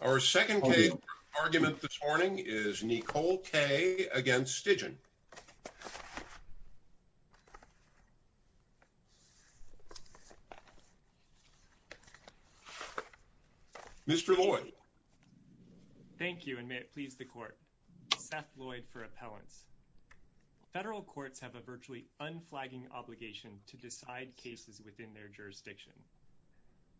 Our second case for argument this morning is Nicole K. v. Stigdon. Mr. Lloyd. Thank you, and may it please the Court. Seth Lloyd for Appellants. Federal courts have a virtually unflagging obligation to decide cases within their jurisdiction.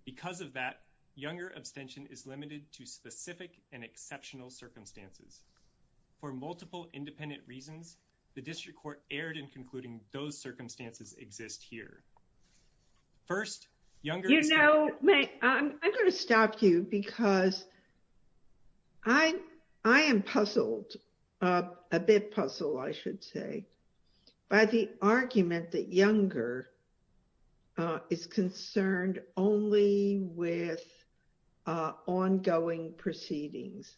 Because of that, Younger abstention is limited to specific and exceptional circumstances. For multiple independent reasons, the District Court erred in concluding those circumstances exist here. First, Younger... You know, I'm going to stop you because I am puzzled, a bit puzzled, I should say, by the argument that Younger is concerned only with ongoing proceedings.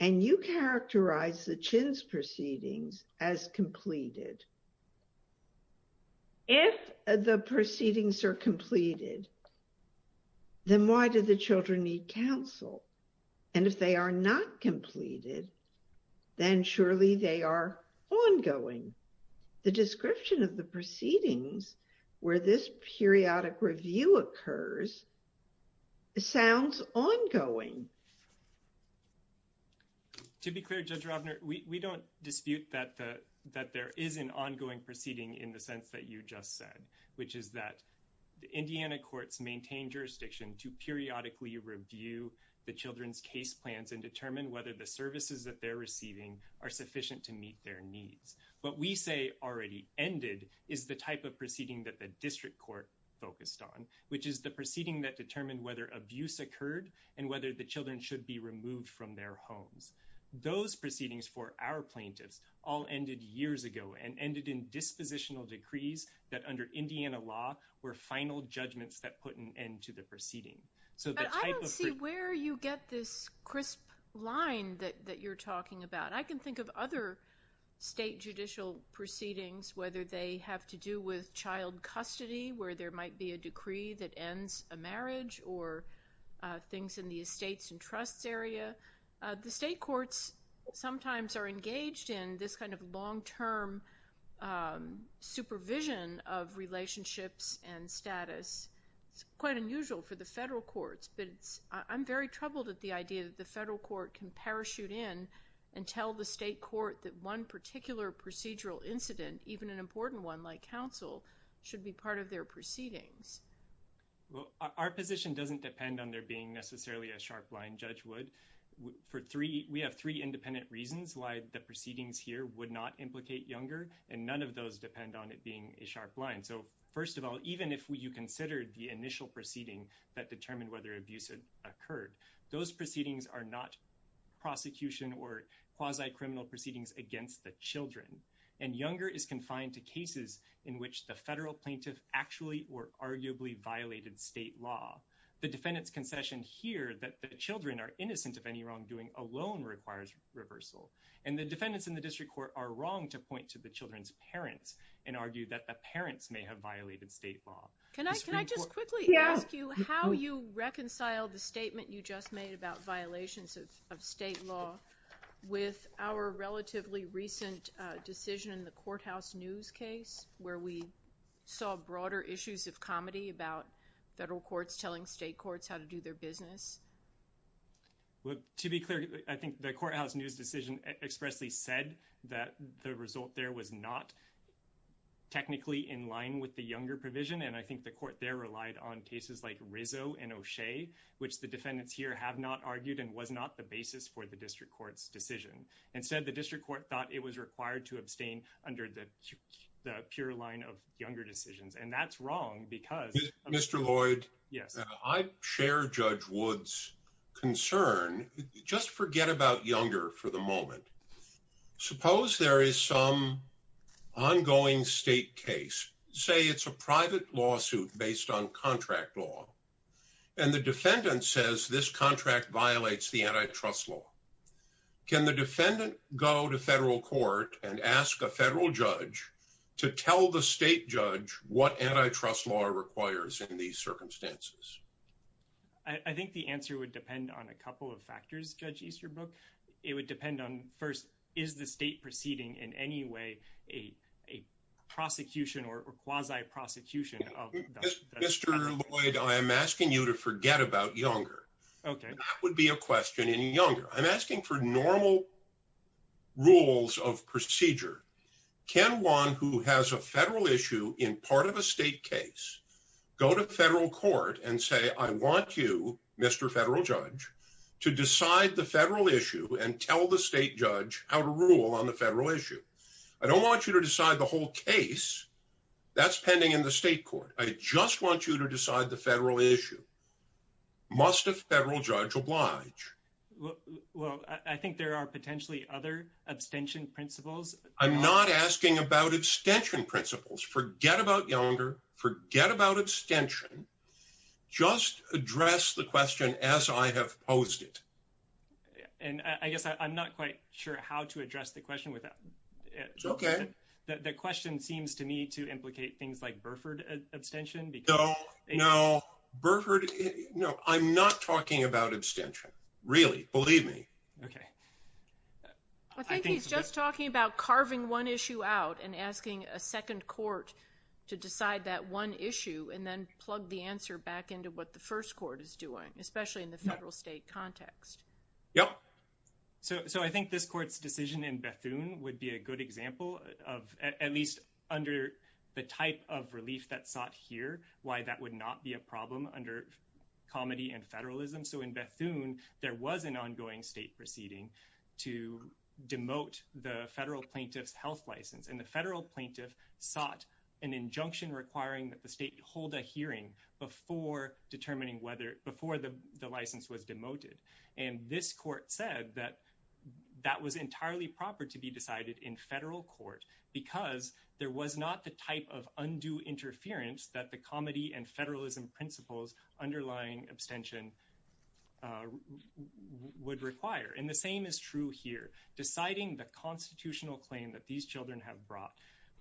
And you characterize the Chin's proceedings as completed. If the proceedings are completed, then why do the children need counsel? And if they are not completed, then surely they are ongoing. The description of the proceedings where this periodic review occurs sounds ongoing. To be clear, Judge Ravner, we don't dispute that there is an ongoing proceeding in the sense that you just said, which is that the Indiana courts maintain jurisdiction to periodically review the children's case plans and determine whether the services that they're receiving are sufficient to meet their needs. What we say already ended is the type of proceeding that the District Court focused on, which is the proceeding that determined whether abuse occurred and whether the children should be removed from their homes. Those proceedings for our plaintiffs all ended years ago and ended in dispositional decrees that under Indiana law were final judgments that put an end to the proceeding. But I don't see where you get this crisp line that you're talking about. I can think of other state judicial proceedings, whether they have to do with child custody, where there might be a decree that ends a marriage or things in the estates and trusts area. The state courts sometimes are engaged in this kind of long-term supervision of relationships and status. It's quite unusual for the federal courts, but I'm very troubled at the idea that the federal court can parachute in and tell the state court that one particular procedural incident, even an important one like counsel, should be part of their proceedings. Our position doesn't depend on there being necessarily a sharp line, Judge Wood. We have three independent reasons why the proceedings here would not implicate younger, and none of those depend on it being a sharp line. First of all, even if you considered the initial proceeding that determined whether abuse occurred, those proceedings are not prosecution or quasi-criminal proceedings against the children. Younger is confined to cases in which the federal plaintiff actually or arguably violated state law. The defendant's concession here that the children are innocent of any wrongdoing alone requires reversal. The defendants in the district court are wrong to point to the children's parents and argue that the parents may have violated state law. Can I just quickly ask you how you reconcile the statement you just made about violations of state law with our relatively recent decision in the courthouse news case where we saw broader issues of comedy about federal courts telling state courts how to do their business? Well, to be clear, I think the courthouse news decision expressly said that the result there was not technically in line with the younger provision, and I think the court there relied on cases like Rizzo and O'Shea, which the defendants here have not argued and was not the basis for the district court's decision. Instead, the district court thought it was required to abstain under the pure line of younger decisions, and that's wrong because... Mr. Lloyd, I share Judge Wood's concern. Just forget about younger for the moment. Suppose there is some ongoing state case, say it's a private lawsuit based on contract law, and the defendant says this contract violates the antitrust law. Can the defendant go to federal court and ask a federal judge to tell the state judge what antitrust law requires in these circumstances? I think the answer would depend on a couple of factors, Judge Easterbrook. It would depend on, first, is the state proceeding in any way a prosecution or quasi-prosecution of... Mr. Lloyd, I am asking you to forget about younger. Okay. That would be a question in younger. I'm asking for normal rules of procedure. Can one who has a federal issue in part of a state case go to federal court and say, I want you, Mr. Federal Judge, to decide the federal issue and tell the state judge how to rule on the federal issue? I don't want you to decide the whole case. That's pending in the state court. I just want you to decide the federal issue. Must a federal judge oblige? Well, I think there are potentially other abstention principles. I'm not asking about abstention principles. Forget about younger. Forget about abstention. Just address the question as I have posed it. And I guess I'm not quite sure how to address the question without... It's okay. The question seems to me to implicate things like Burford abstention because... No, no. Burford... No, I'm not talking about abstention. Really. Believe me. Okay. I think he's just talking about carving one issue out and asking a second court to decide that one issue and then plug the answer back into what the first court is doing, especially in the federal state context. Yep. So I think this court's decision in Bethune would be a good example of, at least under the type of relief that's sought here, why that would not be a problem under comedy and federalism. So in Bethune, there was an ongoing state proceeding to demote the federal plaintiff's health license. And the federal plaintiff sought an injunction requiring that the state hold a hearing before determining whether... Before the license was demoted. And this court said that that was entirely proper to be decided in federal court because there was not the type of undue interference that the comedy and federalism principles underlying abstention would require. And the same is true here. Deciding the constitutional claim that these children have brought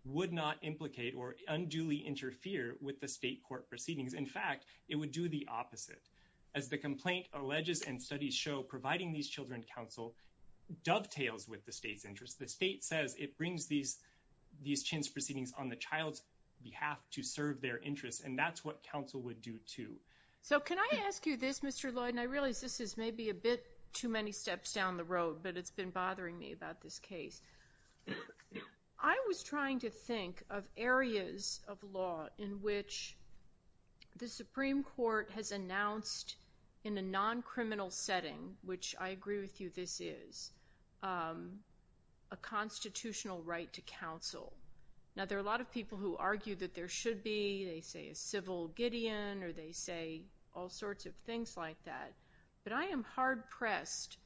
would not implicate or unduly interfere with the state court proceedings. In fact, it would do the opposite. As the complaint alleges and studies show, providing these children counsel dovetails with the state's interest. The state says it brings these chance proceedings on the child's behalf to serve their interests. And that's what counsel would do, too. So can I ask you this, Mr. Lloyd? And I realize this is maybe a bit too many steps down the road, but it's been bothering me about this case. I was trying to think of areas of law in which the Supreme Court has announced in a non-criminal setting, which I agree with you this is, a constitutional right to counsel. Now, there are a lot of people who argue that there should be. They say a civil Gideon or they say all sorts of things like that. But I am hard-pressed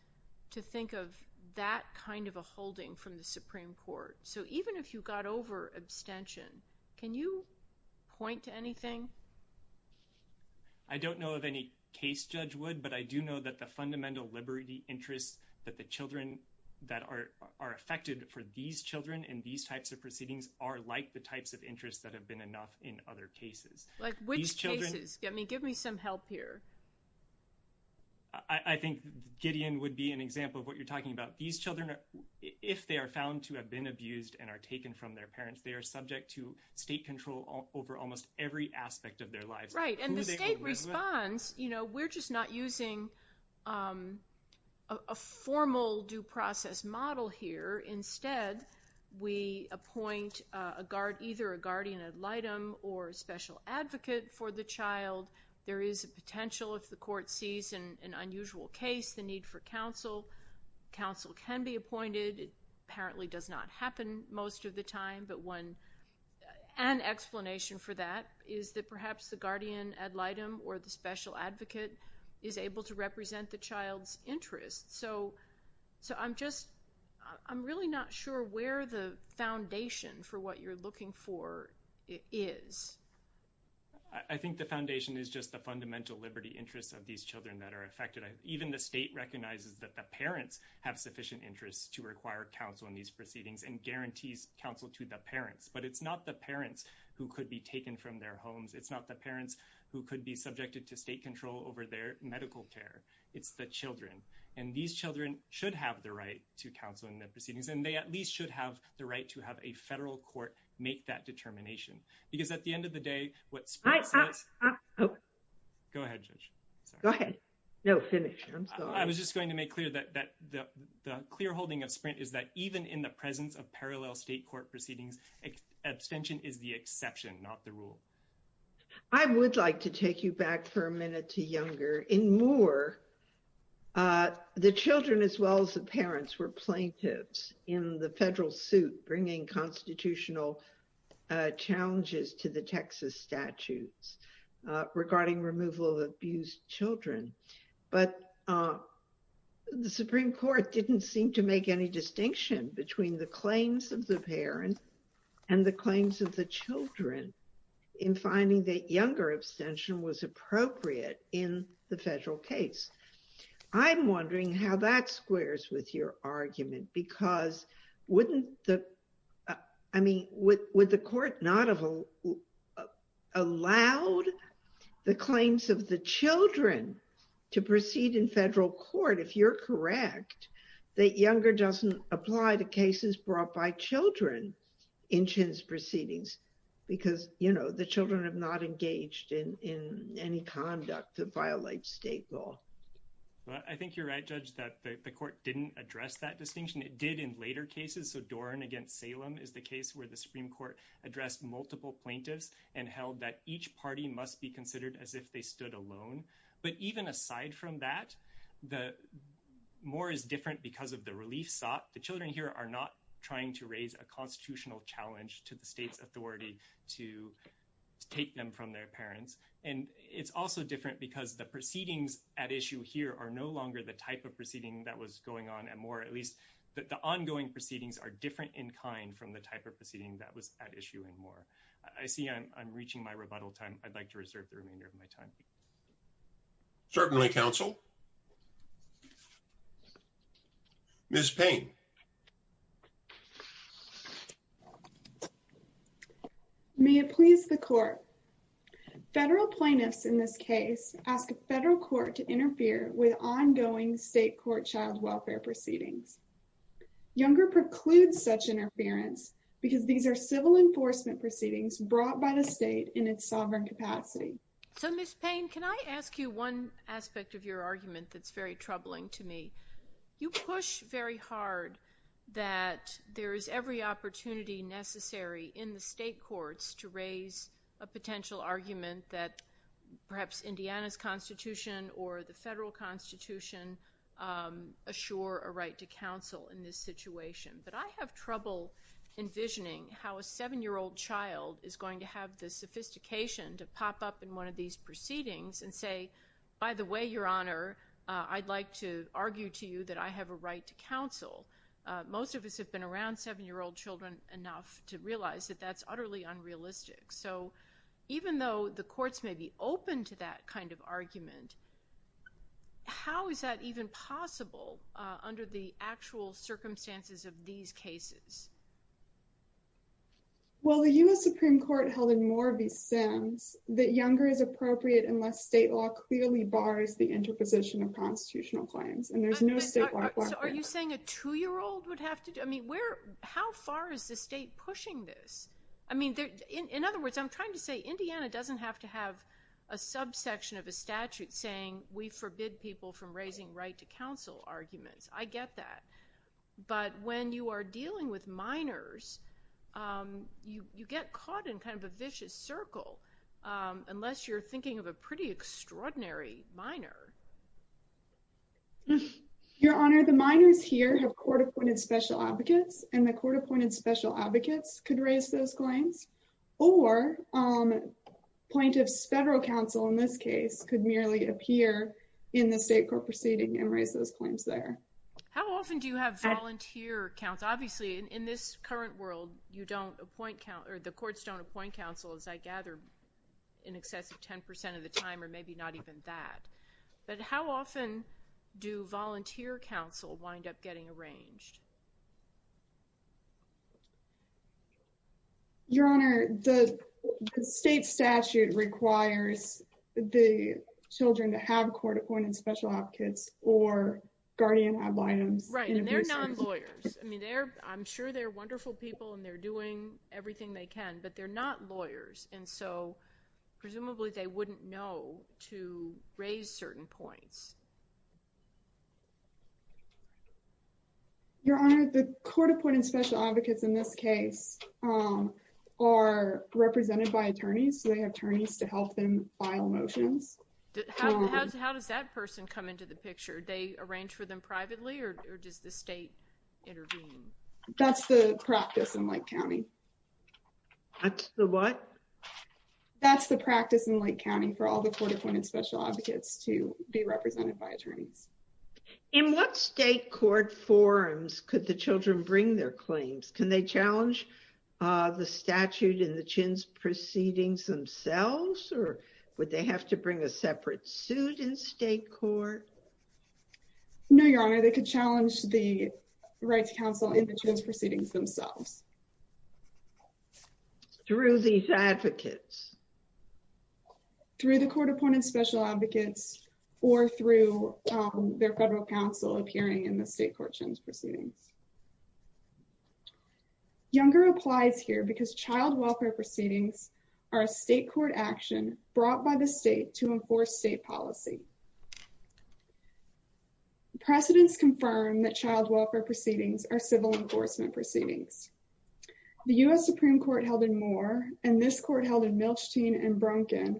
to think of that kind of a holding from the Supreme Court. So even if you got over abstention, can you point to anything? I don't know if any case judge would, but I do know that the fundamental liberty interests that the children that are affected for these children in these types of proceedings are like the types of interests that have been enough in other cases. Like which cases? Give me some help here. I think Gideon would be an example of what you're talking about. These children, if they are found to have been abused and are taken from their parents, they are subject to state control over almost every aspect of their lives. Right, and the state responds, you know, we're just not using a formal due process model here. Instead, we appoint either a guardian ad litem or a special advocate for the child. There is a potential, if the court sees an unusual case, the need for counsel. Counsel can be appointed. It apparently does not happen most of the time. But an explanation for that is that perhaps the guardian ad litem or the special advocate is able to represent the child's interests. So I'm really not sure where the foundation for what you're looking for is. I think the foundation is just the fundamental liberty interests of these children that are affected. Even the state recognizes that the parents have sufficient interests to require counsel in these proceedings and guarantees counsel to the parents. But it's not the parents who could be taken from their homes. It's not the parents who could be subjected to state control over their medical care. It's the children. And these children should have the right to counsel in the proceedings. And they at least should have the right to have a federal court make that determination. Because at the end of the day, what Sprint says... Go ahead, Judge. Go ahead. No, finish. I'm sorry. I was just going to make clear that the clear holding of Sprint is that even in the presence of parallel state court proceedings, abstention is the exception, not the rule. I would like to take you back for a minute to Younger. In Moore, the children as well as the parents were plaintiffs in the federal suit bringing constitutional challenges to the Texas statutes regarding removal of abused children. But the Supreme Court didn't seem to make any distinction between the claims of the parents and the claims of the children in finding that Younger abstention was appropriate in the federal case. I'm wondering how that squares with your argument. Because wouldn't the... I mean, would the court not have allowed the claims of the children to proceed in federal court, if you're correct, that Younger doesn't apply to cases brought by children in CHIN's proceedings? Because, you know, the children have not engaged in any conduct that violates state law. I think you're right, Judge, that the court didn't address that distinction. It did in later cases. So Doran against Salem is the case where the Supreme Court addressed multiple plaintiffs and held that each party must be considered as if they stood alone. But even aside from that, Moore is different because of the relief sought. The children here are not trying to raise a constitutional challenge to the state's authority to take them from their parents. And it's also different because the proceedings at issue here are no longer the type of proceeding that was going on at Moore. At least that the ongoing proceedings are different in kind from the type of proceeding that was at issue in Moore. I see I'm reaching my rebuttal time. I'd like to reserve the remainder of my time. Certainly, counsel. Ms. Payne. May it please the court. Federal plaintiffs in this case ask a federal court to interfere with ongoing state court child welfare proceedings. Younger precludes such interference because these are civil enforcement proceedings brought by the state in its sovereign capacity. So, Ms. Payne, can I ask you one aspect of your argument that's very troubling to me? You push very hard that there is every opportunity necessary in the state courts to raise a potential argument that perhaps Indiana's constitution or the federal constitution assure a right to counsel in this situation. But I have trouble envisioning how a 7-year-old child is going to have the sophistication to pop up in one of these proceedings and say, by the way, Your Honor, I'd like to argue to you that I have a right to counsel. Most of us have been around 7-year-old children enough to realize that that's utterly unrealistic. So even though the courts may be open to that kind of argument, how is that even possible under the actual circumstances of these cases? Well, the U.S. Supreme Court held in more of these sins that younger is appropriate unless state law clearly bars the interposition of constitutional claims. And there's no state law for that. Are you saying a 2-year-old would have to? I mean, how far is the state pushing this? I mean, in other words, I'm trying to say Indiana doesn't have to have a subsection of a statute saying we forbid people from raising right to counsel arguments. I get that. But when you are dealing with minors, you get caught in kind of a vicious circle unless you're thinking of a pretty extraordinary minor. Your Honor, the minors here have court-appointed special advocates, and the court-appointed special advocates could raise those claims. Or plaintiffs' federal counsel, in this case, could merely appear in the state court proceeding and raise those claims there. How often do you have volunteer counsel? Obviously, in this current world, you don't appoint counsel, or the courts don't appoint counsel, as I gather, in excess of 10% of the time or maybe not even that. But how often do volunteer counsel wind up getting arranged? Your Honor, the state statute requires the children to have court-appointed special advocates or guardian ad litems. Right, and they're non-lawyers. I mean, I'm sure they're wonderful people and they're doing everything they can, but they're not lawyers. And so, presumably, they wouldn't know to raise certain points. Your Honor, the court-appointed special advocates in this case are represented by attorneys, so they have attorneys to help them file motions. How does that person come into the picture? Do they arrange for them privately, or does the state intervene? That's the practice in Lake County. That's the what? That's the practice in Lake County for all the court-appointed special advocates to be represented by attorneys. In what state court forums could the children bring their claims? Can they challenge the statute in the chintz proceedings themselves, or would they have to bring a separate suit in state court? No, Your Honor, they could challenge the rights counsel in the chintz proceedings themselves. Through these advocates? Through the court-appointed special advocates or through their federal counsel appearing in the state court chintz proceedings. Younger applies here because child welfare proceedings are a state court action brought by the state to enforce state policy. Precedents confirm that child welfare proceedings are civil enforcement proceedings. The U.S. Supreme Court held in Moore, and this court held in Milstein and Bronkin,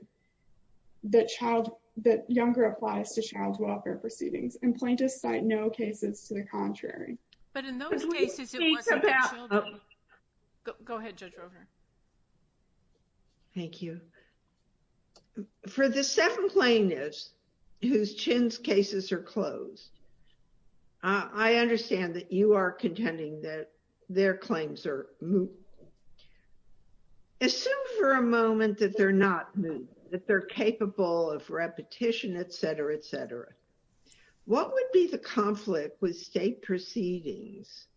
that younger applies to child welfare proceedings, and plaintiffs cite no cases to the contrary. But in those cases, it wasn't the children. Go ahead, Judge Roper. Thank you. For the seven plaintiffs whose chintz cases are closed, I understand that you are contending that their claims are moot. Assume for a moment that they're not moot, that they're capable of repetition, etc., etc. What would be the conflict with state proceedings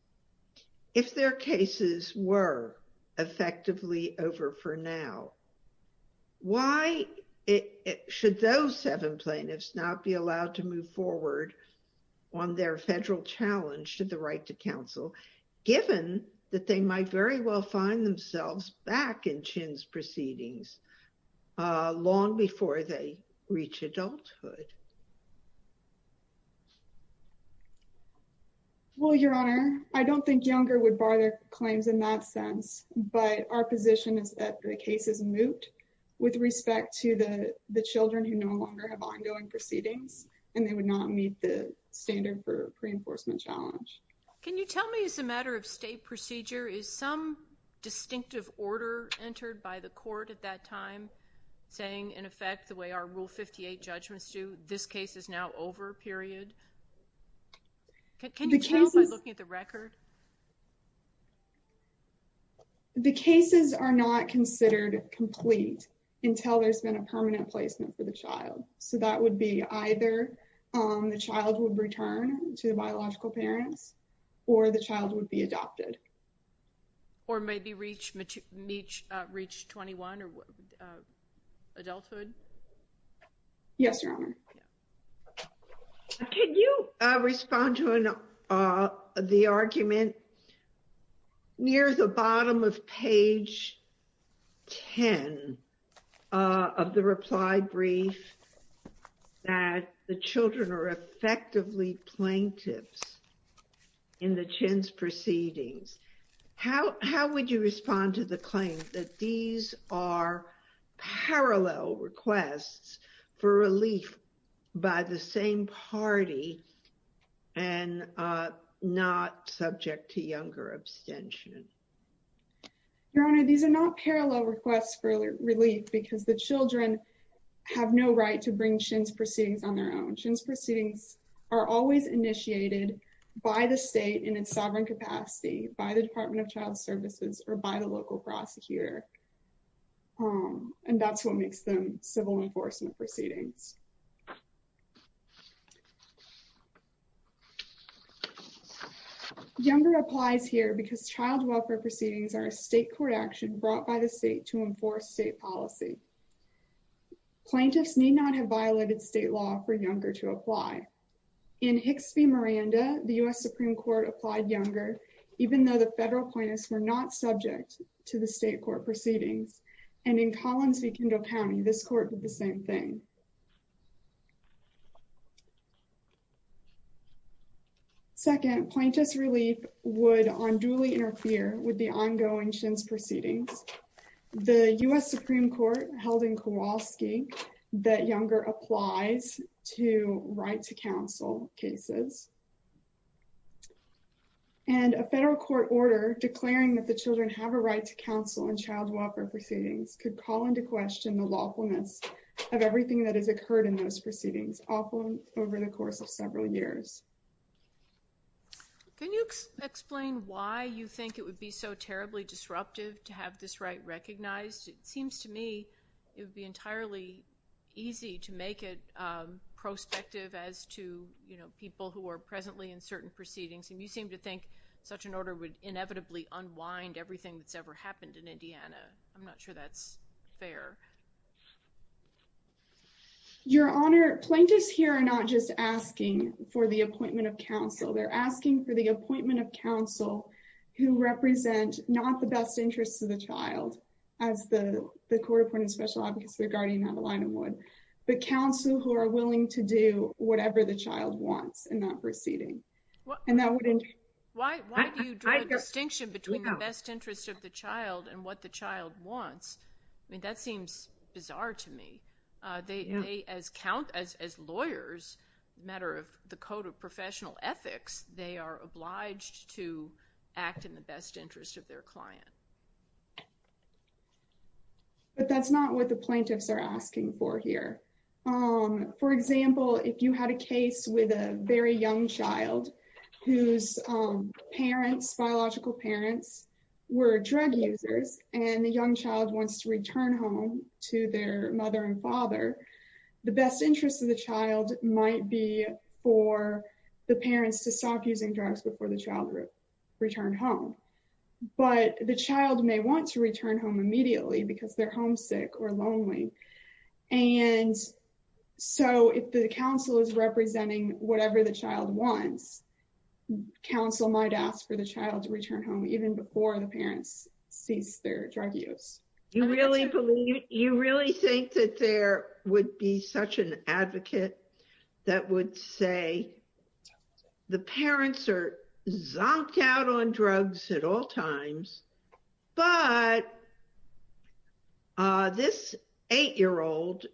if their cases were effectively over for now? Why should those seven plaintiffs not be allowed to move forward on their federal challenge to the right to counsel, given that they might very well find themselves back in chintz proceedings long before they reach adulthood? Well, Your Honor, I don't think younger would bar their claims in that sense, but our position is that the case is moot with respect to the children who no longer have ongoing proceedings, and they would not meet the standard for pre-enforcement challenge. Can you tell me, as a matter of state procedure, is some distinctive order entered by the court at that time saying, in effect, the way our Rule 58 judgments do, this case is now over, period? Can you tell by looking at the record? The cases are not considered complete until there's been a permanent placement for the child. So that would be either the child would return to the biological parents, or the child would be adopted. Or maybe reach 21 or adulthood? Yes, Your Honor. Can you respond to the argument near the bottom of page 10 of the reply brief that the children are effectively plaintiffs in the chintz proceedings? How would you respond to the claim that these are parallel requests for relief by the same party and not subject to younger abstention? Your Honor, these are not parallel requests for relief because the children have no right to bring chintz proceedings on their own. Chintz proceedings are always initiated by the state in its sovereign capacity, by the Department of Child Services, or by the local prosecutor. And that's what makes them civil enforcement proceedings. Younger applies here because child welfare proceedings are a state court action brought by the state to enforce state policy. Plaintiffs need not have violated state law for younger to apply. In Hixby-Miranda, the U.S. Supreme Court applied younger, even though the federal plaintiffs were not subject to the state court proceedings. And in Collins v. Kendall County, this court did the same thing. Second, plaintiffs' relief would unduly interfere with the ongoing chintz proceedings. The U.S. Supreme Court held in Kowalski that younger applies to right-to-counsel cases. And a federal court order declaring that the children have a right to counsel in child welfare proceedings could call into question the lawfulness of everything that has occurred in those proceedings, often over the course of several years. Can you explain why you think it would be so terribly disruptive to have this right recognized? It seems to me it would be entirely easy to make it prospective as to, you know, people who are presently in certain proceedings. And you seem to think such an order would inevitably unwind everything that's ever happened in Indiana. I'm not sure that's fair. Your Honor, plaintiffs here are not just asking for the appointment of counsel. They're asking for the appointment of counsel who represent not the best interests of the child, as the court appointed special advocacy guardian, Adelina, would, but counsel who are willing to do whatever the child wants in that proceeding. Why do you draw a distinction between the best interest of the child and what the child wants? I mean, that seems bizarre to me. They, as lawyers, matter of the code of professional ethics, they are obliged to act in the best interest of their client. But that's not what the plaintiffs are asking for here. For example, if you had a case with a very young child whose parents, biological parents, were drug users, and the young child wants to return home to their mother and father, the best interest of the child might be for the parents to stop using drugs before the child returned home. But the child may want to return home immediately because they're homesick or lonely. And so if the counsel is representing whatever the child wants, counsel might ask for the child to return home even before the parents cease their drug use. You really think that there would be such an advocate that would say, the parents are zonked out on drugs at all times, but this eight-year-old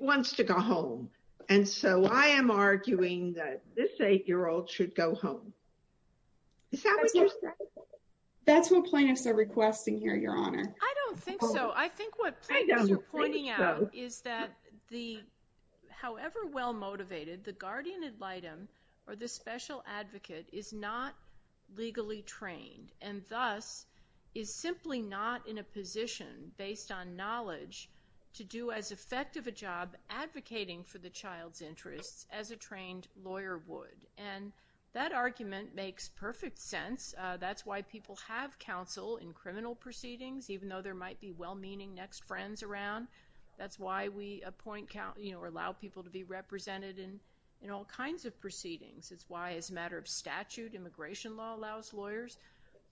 wants to go home. And so I am arguing that this eight-year-old should go home. That's what plaintiffs are requesting here, Your Honor. So I think what plaintiffs are pointing out is that however well-motivated, the guardian ad litem, or the special advocate, is not legally trained, and thus is simply not in a position, based on knowledge, to do as effective a job advocating for the child's interests as a trained lawyer would. And that argument makes perfect sense. That's why people have counsel in criminal proceedings, even though there might be well-meaning next friends around. That's why we allow people to be represented in all kinds of proceedings. It's why, as a matter of statute, immigration law allows lawyers.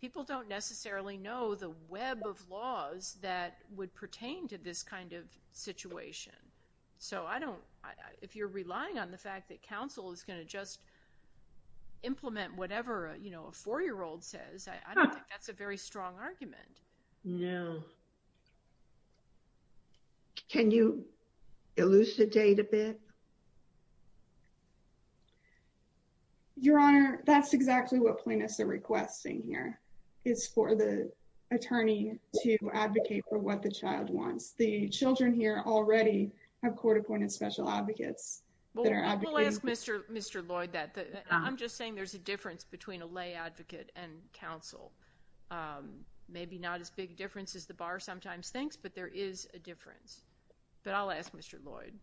People don't necessarily know the web of laws that would pertain to this kind of situation. So if you're relying on the fact that counsel is going to just implement whatever a four-year-old says, I don't think that's a very strong argument. No. Can you elucidate a bit? Your Honor, that's exactly what plaintiffs are requesting here, is for the attorney to advocate for what the child wants. The children here already have court-appointed special advocates. We'll ask Mr. Lloyd that. I'm just saying there's a difference between a lay advocate and counsel. Maybe not as big a difference as the bar sometimes thinks, but there is a difference. But I'll ask Mr. Lloyd.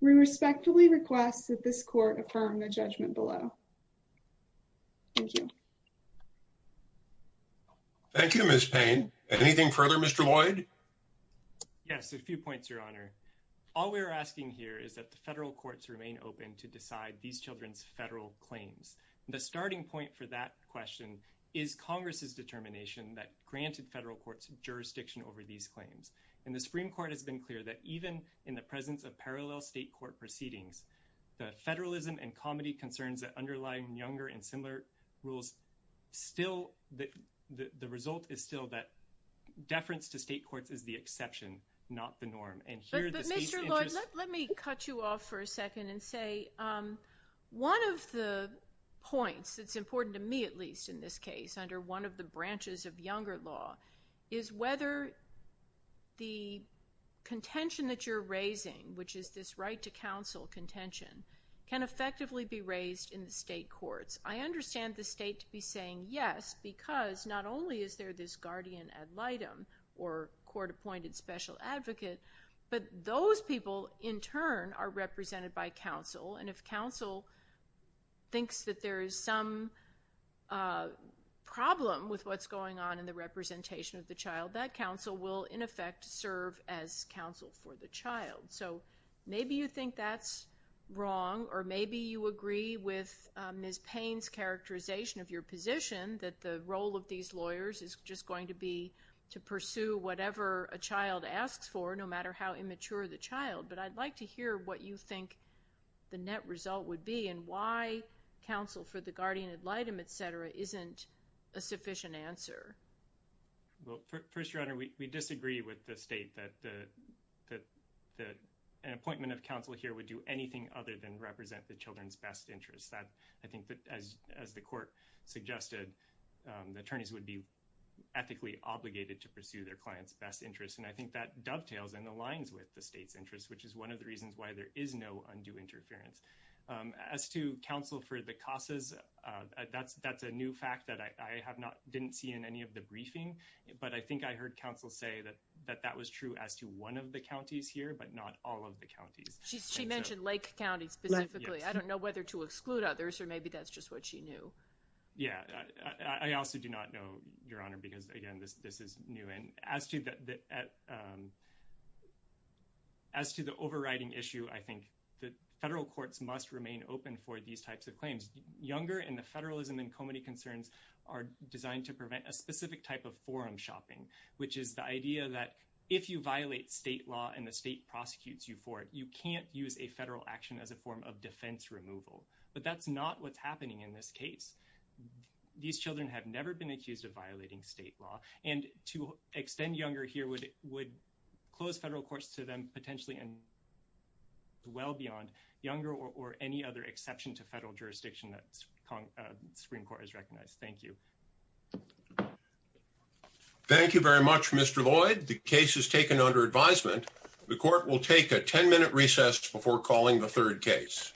We respectfully request that this court affirm the judgment below. Thank you. Thank you, Ms. Payne. Anything further, Mr. Lloyd? Yes, a few points, Your Honor. All we're asking here is that the federal courts remain open to decide these children's federal claims. The starting point for that question is Congress's determination that granted federal courts jurisdiction over these claims. And the Supreme Court has been clear that even in the presence of parallel state court proceedings, the federalism and comity concerns that underlie younger and similar rules, the result is still that deference to state courts is the exception, not the norm. But Mr. Lloyd, let me cut you off for a second and say, one of the points that's important to me, at least in this case, under one of the branches of younger law, is whether the contention that you're raising, which is this right to counsel contention, can effectively be raised in the state courts. I understand the state to be saying yes, because not only is there this guardian ad litem, or court-appointed special advocate, but those people, in turn, are represented by counsel. And if counsel thinks that there is some problem with what's going on in the representation of the child, that counsel will, in effect, serve as counsel for the child. So maybe you think that's wrong, or maybe you agree with Ms. Payne's characterization of your position that the role of these lawyers is just going to be to pursue whatever a child asks for, no matter how immature the child. But I'd like to hear what you think the net result would be, and why counsel for the guardian ad litem, et cetera, isn't a sufficient answer. Well, First Your Honor, we disagree with the state that an appointment of counsel here would do anything other than represent the children's best interests. I think that, as the court suggested, the attorneys would be ethically obligated to pursue their client's best interests. And I think that dovetails and aligns with the state's interests, which is one of the reasons why there is no undue interference. As to counsel for the CASAs, that's a new fact that I didn't see in any of the briefing. But I think I heard counsel say that that was true as to one of the counties here, but not all of the counties. She mentioned Lake County specifically. I don't know whether to exclude others, or maybe that's just what she knew. Yeah. I also do not know, Your Honor, because, again, this is new. And as to the overriding issue, I think the federal courts must remain open for these types of claims. Younger and the federalism and comity concerns are designed to prevent a specific type of forum shopping, which is the idea that if you violate state law and the state prosecutes you for it, you can't use a federal action as a form of defense removal. But that's not what's happening in this case. These children have never been accused of violating state law. And to extend younger here would close federal courts to them, potentially well beyond younger or any other exception to federal jurisdiction that the Supreme Court has recognized. Thank you. Thank you very much, Mr. Lloyd. The case is taken under advisement. The court will take a 10-minute recess before calling the third case.